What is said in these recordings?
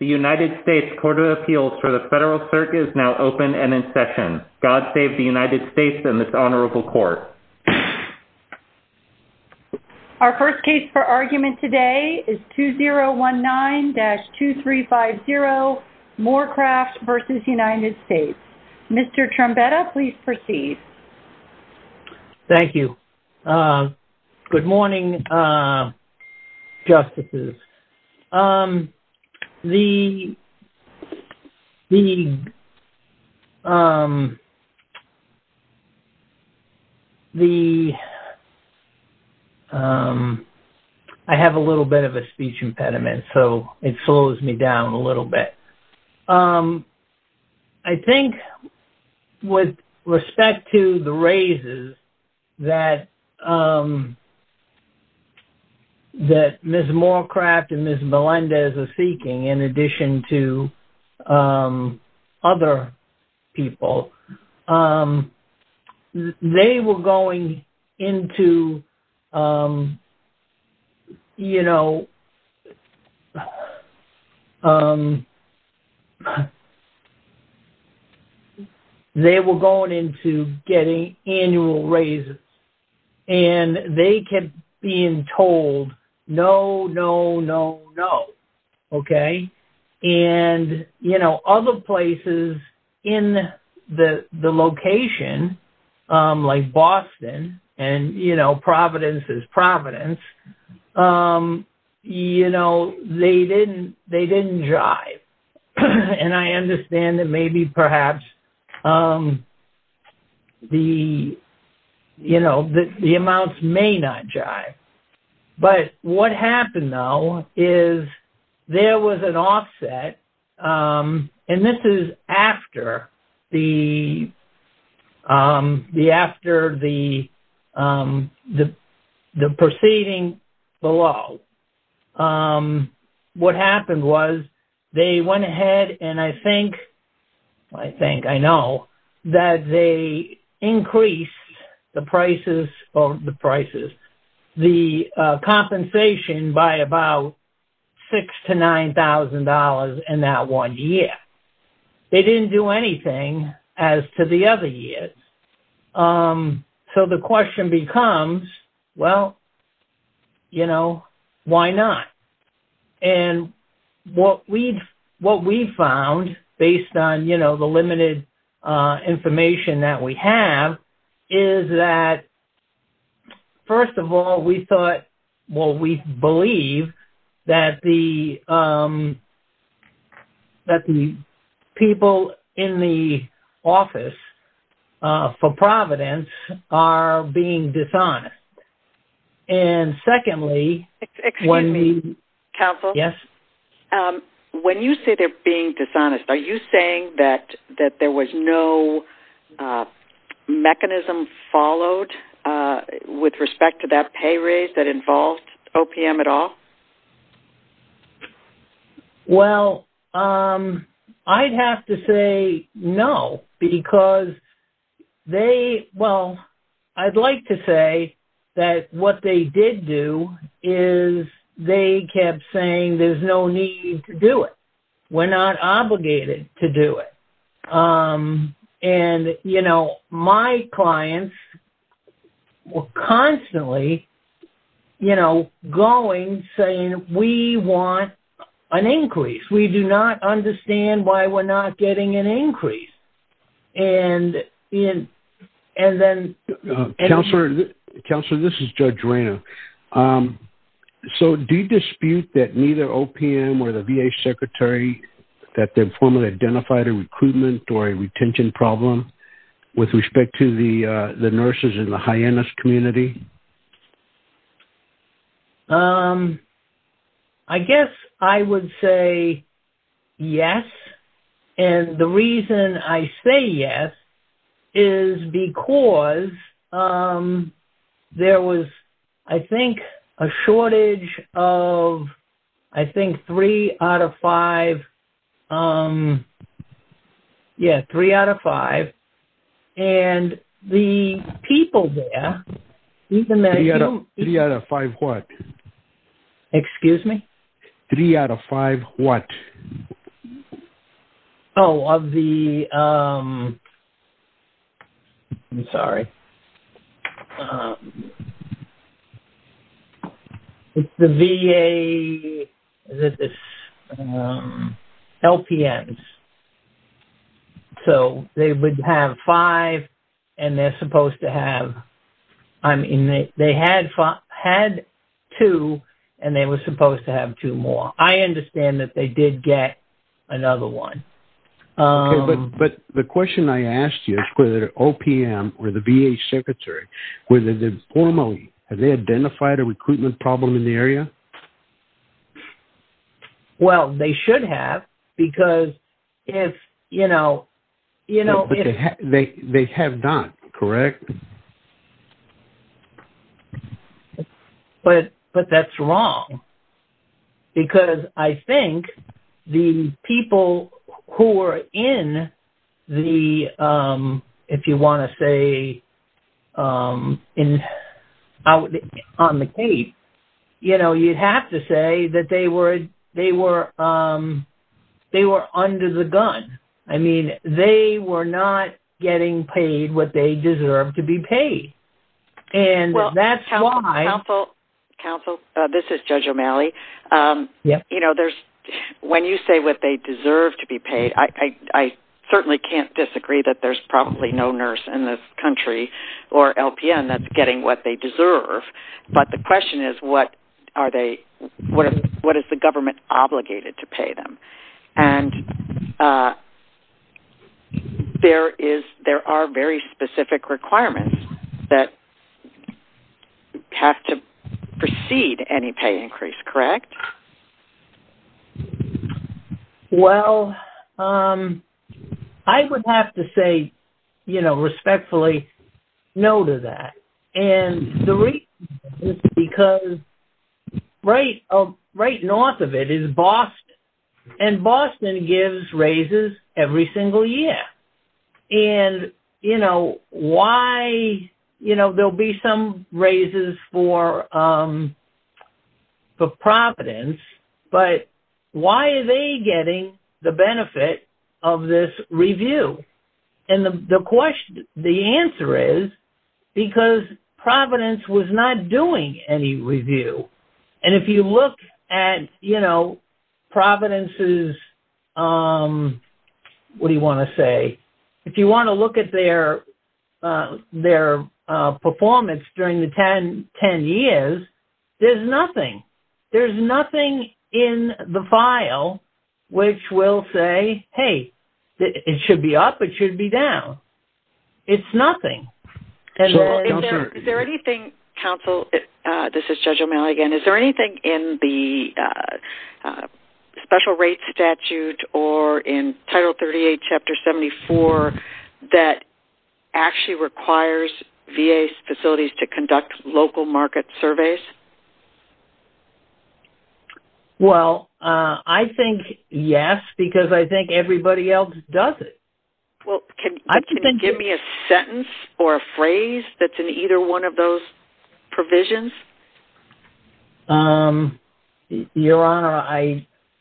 The United States Court of Appeals for the Federal Circuit is now open and in session. God save the United States and this honorable court. Our first case for argument today is 2019-2350 Moorcraft v. United States. Mr. Trombetta, please proceed. Thank you. Good morning, justices. I have a little bit of a speech impediment, so it slows me down a little bit. I think with respect to the raises that Ms. Moorcraft and Ms. Melendez are seeking in addition to other people, they were going into, you know, they were going into getting annual raises. And they kept being told, no, no, no, no. Okay. And, you know, other places in the location, like Boston, and, you know, Providence is Providence, you know, they didn't jive. And I understand that maybe perhaps the, you know, the amounts may not jive. But what happened, though, is there was an offset. And this is after the proceeding below. What happened was, they went ahead and I think, I think, I know, that they increased the prices, or the prices, the compensation by about $6,000 to $9,000 in that one year. They didn't do anything as to the other years. So the question becomes, well, you know, why not? And what we've found, based on, you know, the limited information that we have, is that, first of all, we thought, well, we believe that the people in the office for Providence are being dishonest. And secondly... Excuse me, counsel. Yes. When you say they're being dishonest, are you saying that there was no mechanism followed with respect to that pay raise that involved OPM at all? Well, I'd have to say, no, because they, well, I'd like to say that what they did do is, they kept saying, there's no need to do it. We're not obligated to do it. And, you know, my clients were constantly, you know, going, saying, we want an increase. We do not understand why we're not getting an increase. And then... Counselor, this is Judge Rayner. So do you dispute that neither OPM or the VA secretary, that they've formally identified a recruitment or a retention problem with respect to the nurses in the hyenas community? I guess I would say yes. And the reason I say yes is because there was, I think, a shortage of, I think, three out of five. Yeah, three out of five. And the people there... Three out of five what? Excuse me? Three out of five what? Oh, of the... I'm sorry. It's the VA... Is it this? LPMs. So they would have five, and they're supposed to have, I mean, they had two, and they were supposed to have two more. I understand that they did get another one. Okay, but the question I asked you is whether OPM or the VA secretary, whether they formally, have they identified a recruitment problem in the area? Well, they should have because if, you know... They have not, correct? Correct. But that's wrong because I think the people who were in the, if you want to say, on the case, you know, you'd have to say that they were under the gun. I mean, they were not getting paid what they deserve to be paid. And that's why... Counsel, this is Judge O'Malley. You know, there's, when you say what they deserve to be paid, I certainly can't disagree that there's probably no nurse in this country or LPN that's getting what they deserve. But the question is, what are they, what is the government obligated to pay them? And there is, there are very specific requirements that have to precede any pay increase, correct? Well, I would have to say, you know, respectfully, no to that. And the reason is because right north of it is Boston. And Boston gives raises every single year. And, you know, why, you know, there'll be some raises for Providence, but why are they getting the benefit of this review? And if you look at, you know, Providence's, what do you want to say, if you want to look at their performance during the 10 years, there's nothing. There's nothing in the file which will say, hey, it should be up, it should be down. It's nothing. And is there anything, counsel, this is Judge O'Malley again, is there anything in the special rates statute or in Title 38, Chapter 74, that actually requires VA facilities to conduct local market surveys? Well, I think yes, because I think everybody else does it. Well, can you give me a sentence or a phrase that's in either one of those provisions? Your Honor,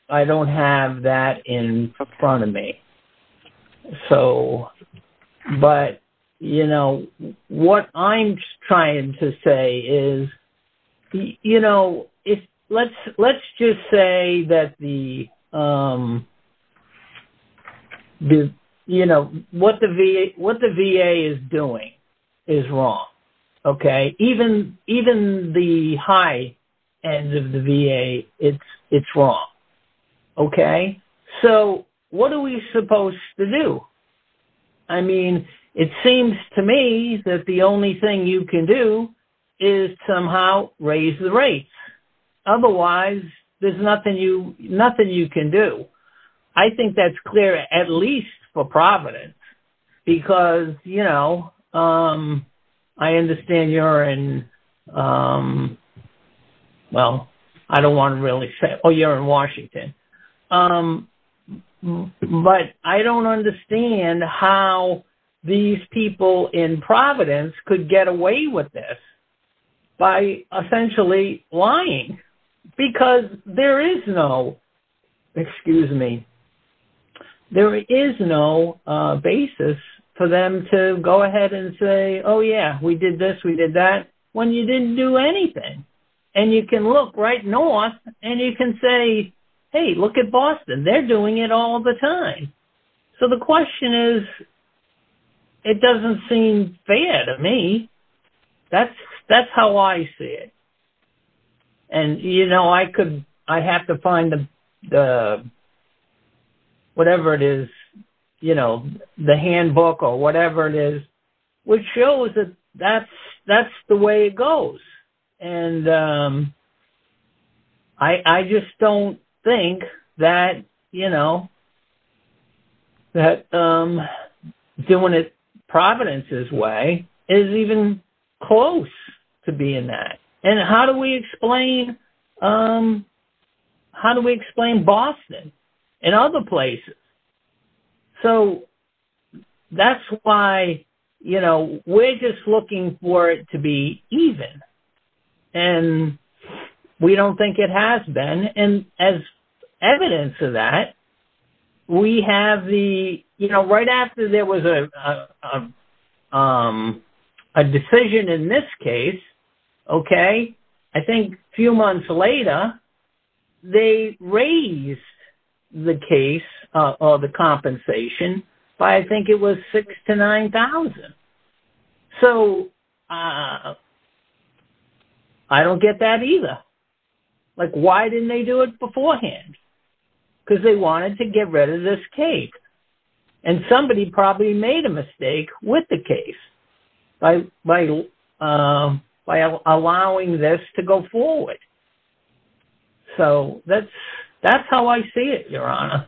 I don't have that in front of me. So, but, you know, what I'm trying to say is, you know, let's just say that the, you know, what the VA is doing is wrong. Okay. Even the high end of the VA, it's wrong. Okay. So, what are we supposed to do? I mean, it seems to me that the only thing you can do is somehow raise the rates. Otherwise, there's nothing you can do. I think that's clear, at least for Providence, because, you know, I understand you're in, well, I don't want to really say, oh, you're in Washington. But I don't understand how these people in Providence could get away with this by essentially lying, because there is no, excuse me, there is no basis for them to go ahead and say, oh, yeah, we did this, we did that, when you didn't do anything. And you can look right north, and you can say, hey, look at Boston, they're doing it all the time. So, the question is, it doesn't seem fair to me. That's how I see it. And, you know, I could, I have to find the, whatever it is, you know, the handbook or whatever it is, which shows that that's the way it goes. And I just don't think that, you know, that doing it Providence's way is even close to being that. And how do we explain, how do we explain Boston and other places? So, that's why, you know, we're just looking for it to be even. And we don't think it has been. And as evidence of that, we have the, you know, right after there was a decision in this case, okay? I think a few months later, they raised the case, or the compensation, by I think it was $6,000 to $9,000. So, I don't get that either. Like, why didn't they do it beforehand? Because they wanted to get rid of this case. And somebody probably made a mistake with the case by allowing this to go forward. So, that's how I see it, Your Honor.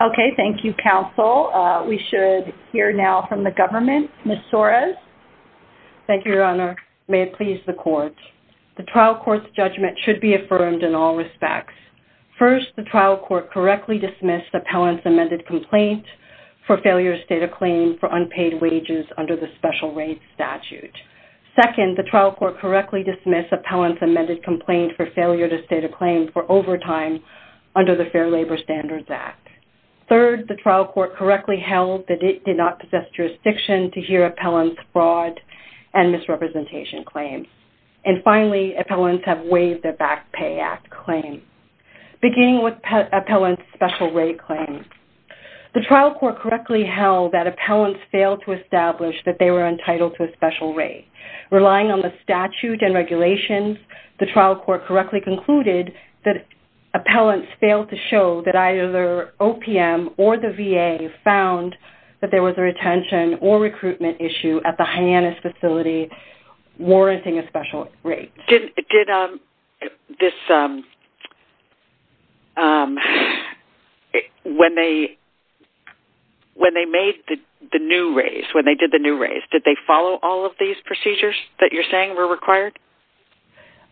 Okay. Thank you, counsel. We should hear now from the government. Ms. Torres. Thank you, Your Honor. May it please the court. The trial court's judgment should be affirmed in all respects. First, the trial court correctly dismissed appellant's amended complaint for failure to state a claim for unpaid wages under the special rates statute. Second, the trial court correctly dismissed appellant's amended complaint for failure to state a claim for overtime under the Fair Labor Standards Act. Third, the trial court correctly held that it did not possess jurisdiction to hear appellant's fraud and misrepresentation claims. And finally, appellants have waived their back pay act claim. Beginning with appellant's special rate claim, the trial court correctly held that appellants failed to establish that they were entitled to a special rate. Relying on the statute and regulations, the trial court correctly concluded that appellants failed to show that either OPM or the VA found that there was a retention or recruitment issue at the Hyannis facility warranting a special rate. When they did the new raise, did they follow all of these procedures that you're saying were required?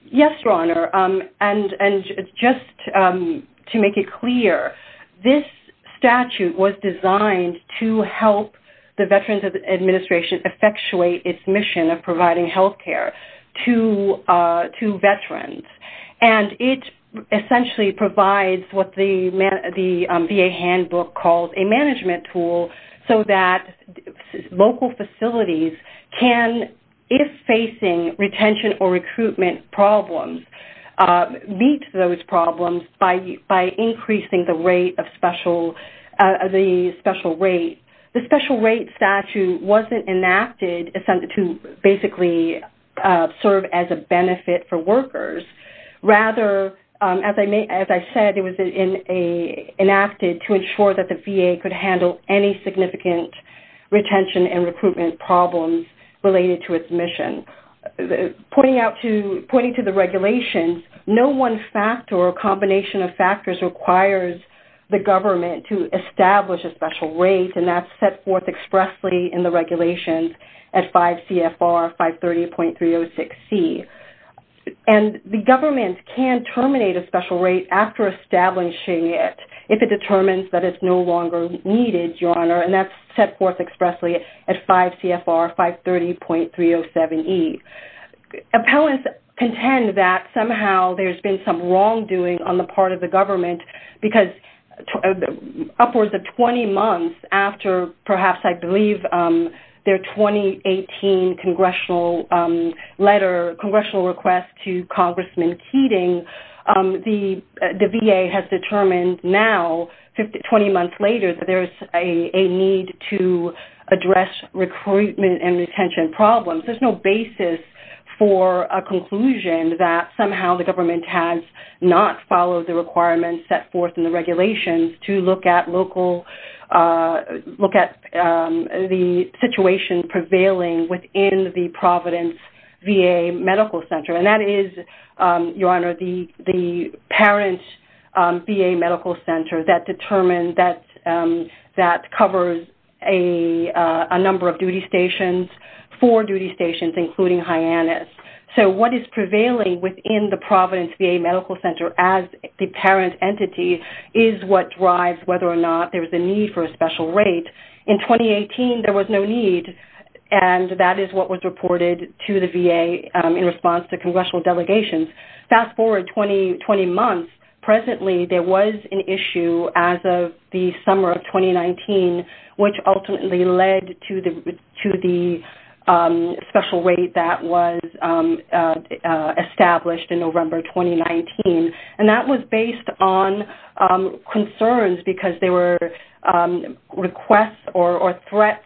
Yes, Your Honor. And just to make it clear, this statute was designed to help the Veterans Administration effectuate its mission of healthcare to Veterans. And it essentially provides what the VA handbook calls a management tool so that local facilities can, if facing retention or recruitment problems, meet those problems by increasing the rate of special, the special rate. The special rate statute wasn't enacted to basically serve as a benefit for workers. Rather, as I said, it was enacted to ensure that the VA could handle any significant retention and recruitment problems related to its mission. Pointing to the regulations, no one factor or combination of factors requires the government to establish a special rate. And that's set forth expressly in the regulations at 5 CFR 530.306C. And the government can terminate a special rate after establishing it if it determines that it's no longer needed, Your Honor. And that's set forth expressly at 5 CFR 530.307E. Appellants contend that somehow there's been some wrongdoing on the their 2018 congressional letter, congressional request to Congressman Keating. The VA has determined now, 20 months later, that there's a need to address recruitment and retention problems. There's no basis for a conclusion that somehow the government has not followed the situation prevailing within the Providence VA Medical Center. And that is, Your Honor, the parent VA Medical Center that determined that covers a number of duty stations, four duty stations, including Hyannis. So what is prevailing within the Providence VA Medical Center as the parent entity is what drives whether or not there's a need for a special rate. In 2018, there was no need. And that is what was reported to the VA in response to congressional delegations. Fast forward 20 months, presently, there was an issue as of the summer of 2019, which ultimately led to the special rate that was established in November 2019. And that was based on concerns because there were requests or threats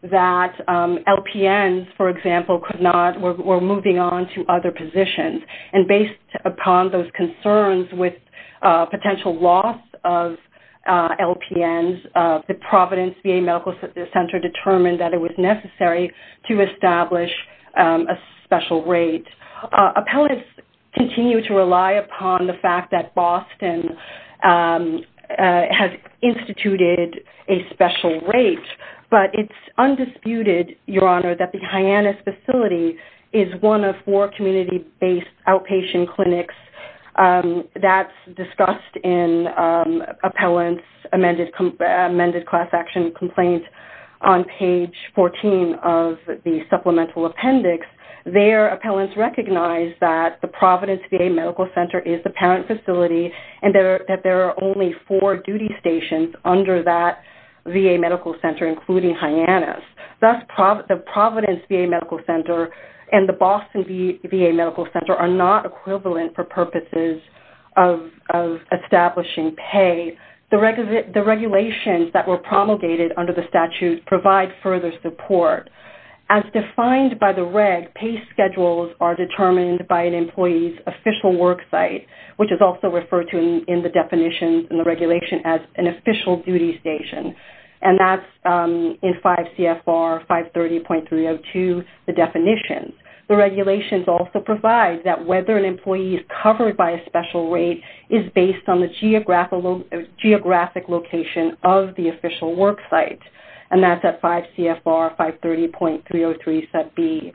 that LPNs, for example, were moving on to other positions. And based upon those concerns with potential loss of LPNs, the Providence VA Medical Center determined that it was necessary to establish a special rate. Appellants continue to rely upon the fact that Boston has instituted a special rate, but it's undisputed, Your Honor, that the Hyannis facility is one of four community-based outpatient clinics that's discussed in appellants' amended class action complaint on page 14 of the supplemental appendix. Their appellants recognize that the Providence VA Medical Center is the parent facility and that there are only four duty stations under that VA Medical Center, including Hyannis. Thus, the Providence VA Medical Center and the Boston VA Medical Center are not equivalent for purposes of establishing pay. The regulations that were promulgated under the statute provide further support. As defined by the reg, pay schedules are determined by an employee's official work site, which is also referred to in the definitions in the regulation as an official duty station. And that's in 5 CFR 530.302, the definitions. The regulations also provide that whether an employee is covered by a special rate is based on the geographic location of the official work site. And that's at 5 CFR 530.303 set B.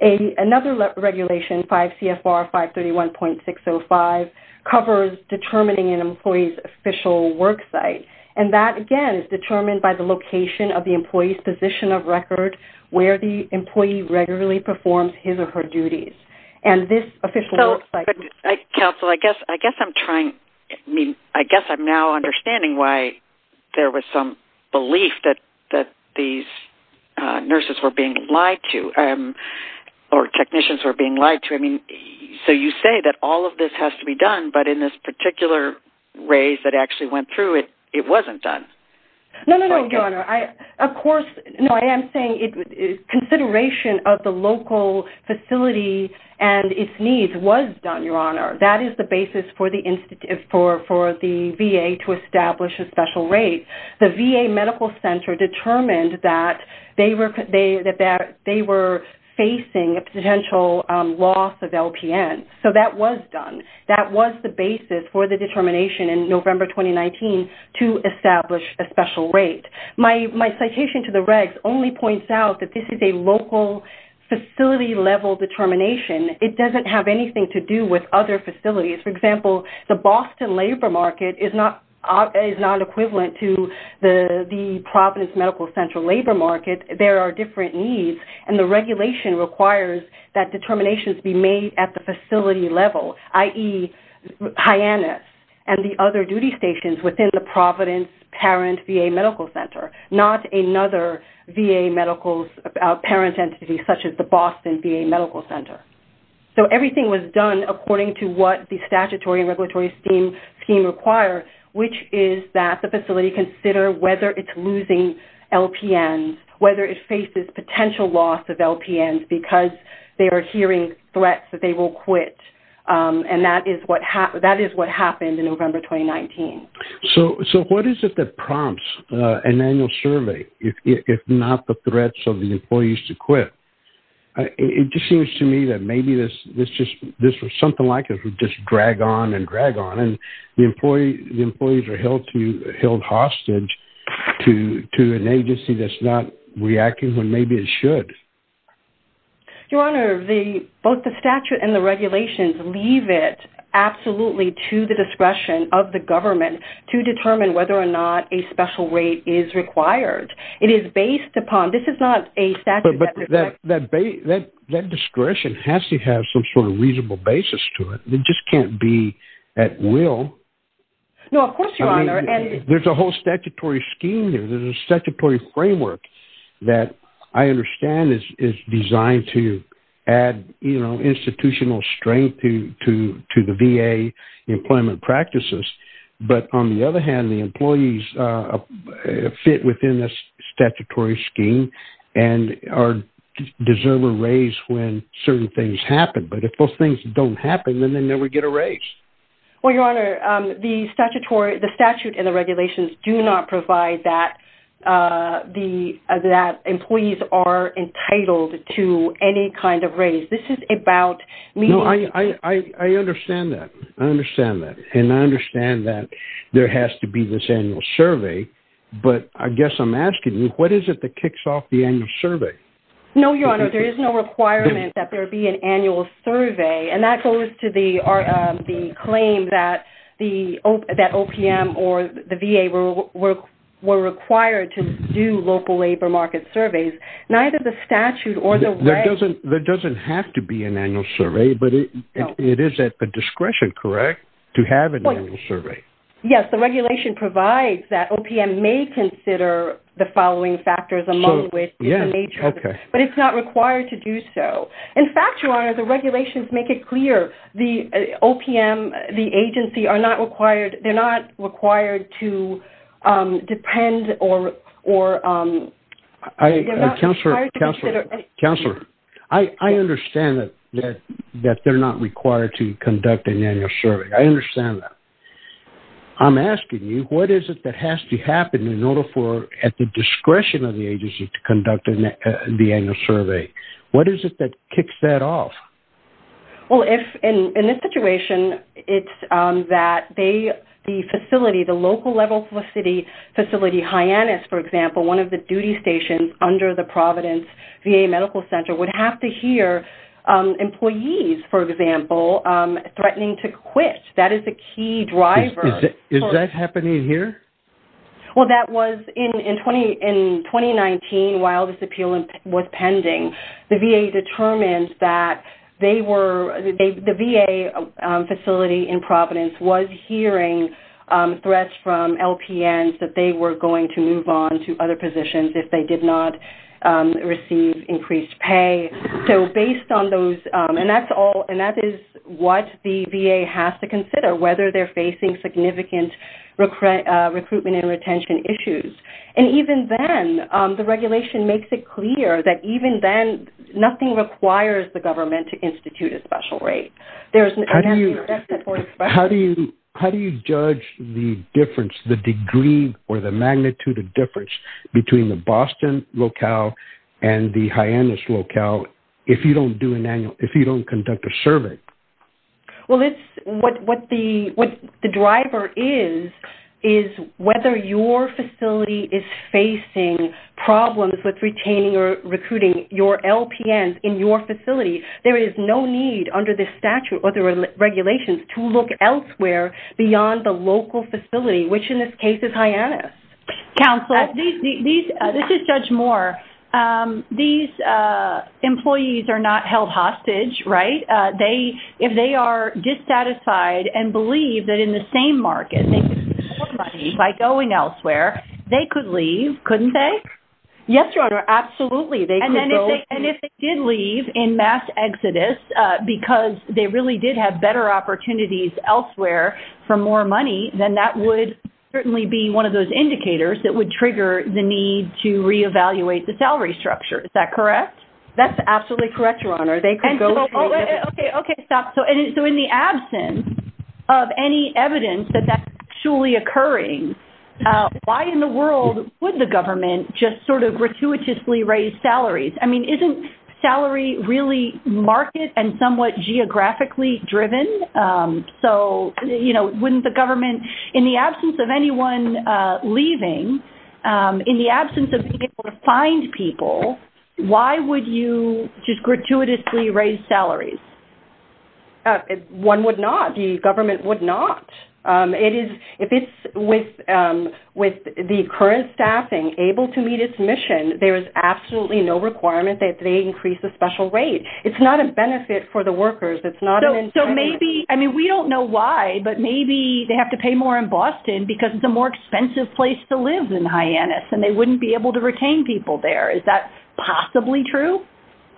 Another regulation, 5 CFR 531.605, covers determining an employee's official work site. And that, again, is determined by the location of the employee's position of record where the employee regularly performs his or her duties. And this official work site... So, counsel, I guess I'm trying, I mean, I guess I'm now understanding why there was some belief that these nurses were being lied to or technicians were being lied to. I mean, so you say that all of this has to be done, but in this particular raise that actually went through it, it wasn't done. No, no, no, Your Honor. Of course, no, I am saying consideration of the local facility and its needs was done, Your Honor. That is the basis for the VA to establish a special rate. The VA Medical Center determined that they were facing a potential loss of LPN. So, that was done. That was the basis for the determination in November 2019 to establish a special rate. My citation to the regs only points out that this is a local facility level determination. It doesn't have anything to do with other facilities. For example, the Boston labor market is not equivalent to the Providence Medical Central labor market. There are different needs, and the regulation requires that determinations be made at the facility level, i.e., Hyannis, and the other duty stations within the Providence parent VA Medical Center, not another VA medical parent entity, such as the Boston VA Medical Center. So, everything was done according to what the statutory and regulatory scheme require, which is that the facility consider whether it's losing LPNs, whether it faces potential loss of and that is what happened in November 2019. So, what is it that prompts an annual survey, if not the threats of the employees to quit? It just seems to me that maybe this was something like it would just drag on and drag on. The employees are held hostage to an agency that's not reacting when maybe it should. Your Honor, both the statute and the regulations leave it absolutely to the discretion of the government to determine whether or not a special rate is required. It is based upon... This is not a statute... But that discretion has to have some sort of reasonable basis to it. It just can't be at will. No, of course, Your Honor, and... There's a whole statutory scheme here. There's a statutory framework that I understand is designed to add institutional strength to the VA employment practices. But on the other hand, the employees fit within this statutory scheme and deserve a raise when certain things happen. But if those don't happen, then they never get a raise. Well, Your Honor, the statutory... The statute and the regulations do not provide that employees are entitled to any kind of raise. This is about me... No, I understand that. I understand that. And I understand that there has to be this annual survey. But I guess I'm asking you, what is it that kicks off the annual survey? No, Your Honor, there is no requirement that there be an annual survey. And that goes to the claim that OPM or the VA were required to do local labor market surveys. Neither the statute or the... There doesn't have to be an annual survey, but it is at the discretion, correct, to have an annual survey? Yes, the regulation provides that OPM may consider the following factors among which... Yeah, okay. But it's not required to do so. In fact, Your Honor, the regulations make it clear the OPM, the agency are not required... They're not required to depend or... They're not required to consider... Counselor, I understand that they're not required to conduct an annual survey. I understand that. I'm asking you, what is it that has to happen in order for, at the discretion of the agency, to conduct the annual survey? What is it that kicks that off? Well, in this situation, it's that the facility, the local level facility, Hyannis, for example, one of the duty stations under the Providence VA Medical Center, would have to hear employees, for example, threatening to quit. That is a key driver. Is that happening here? Well, that was... In 2019, while this appeal was pending, the VA determined that they were... The VA facility in Providence was hearing threats from LPNs that they were going to move on to other positions if they did not receive increased pay. So, based on those... And that is what the VA has to consider, whether they're facing significant recruitment and retention issues. And even then, the regulation makes it clear that, even then, nothing requires the government to institute a special rate. There's... How do you judge the difference, the degree or the magnitude of difference between the Boston locale and the Hyannis locale if you don't do an annual... If you don't... What the driver is, is whether your facility is facing problems with retaining or recruiting your LPNs in your facility. There is no need, under this statute or the regulations, to look elsewhere beyond the local facility, which, in this case, is Hyannis. Counsel, these... This is Judge Moore. These employees are not held hostage, right? They... And believe that, in the same market, they could get more money by going elsewhere. They could leave, couldn't they? Yes, Your Honor. Absolutely. They could go... And if they did leave in mass exodus because they really did have better opportunities elsewhere for more money, then that would certainly be one of those indicators that would trigger the need to re-evaluate the salary structure. Is that correct? That's absolutely correct, Your Honor. They could go... Okay, stop. So in the absence of any evidence that that's actually occurring, why in the world would the government just sort of gratuitously raise salaries? I mean, isn't salary really market and somewhat geographically driven? So wouldn't the government... In the absence of anyone leaving, in the absence of being able to find people, why would you just gratuitously raise salaries? One would not. The government would not. It is... If it's with the current staffing able to meet its mission, there is absolutely no requirement that they increase the special rate. It's not a benefit for the workers. It's not... So maybe... I mean, we don't know why, but maybe they have to pay more in Boston because it's a more expensive place to live in Hyannis, and they wouldn't be able to retain people there. Is that possibly true?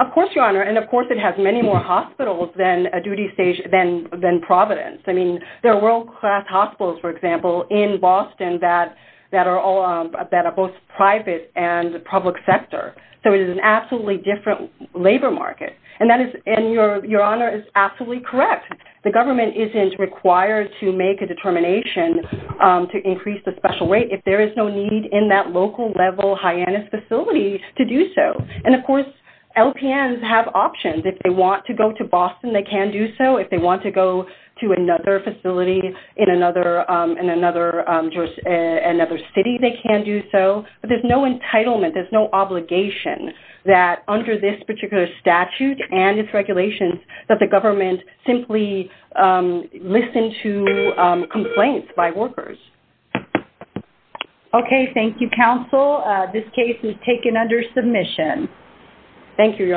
Of course, Your Honor. And of course, it has many more hospitals than a duty stage than Providence. I mean, there are world-class hospitals, for example, in Boston that are both private and public sector. So it is an absolutely different labor market. And that is... And Your Honor is absolutely correct. The government isn't required to make a determination to increase the special rate if there is no need in that And of course, LPNs have options. If they want to go to Boston, they can do so. If they want to go to another facility in another city, they can do so. But there's no entitlement, there's no obligation that under this particular statute and its regulations, that the government simply listen to complaints by workers. Okay. Thank you, counsel. This case is taken under submission. Thank you, Your Honor.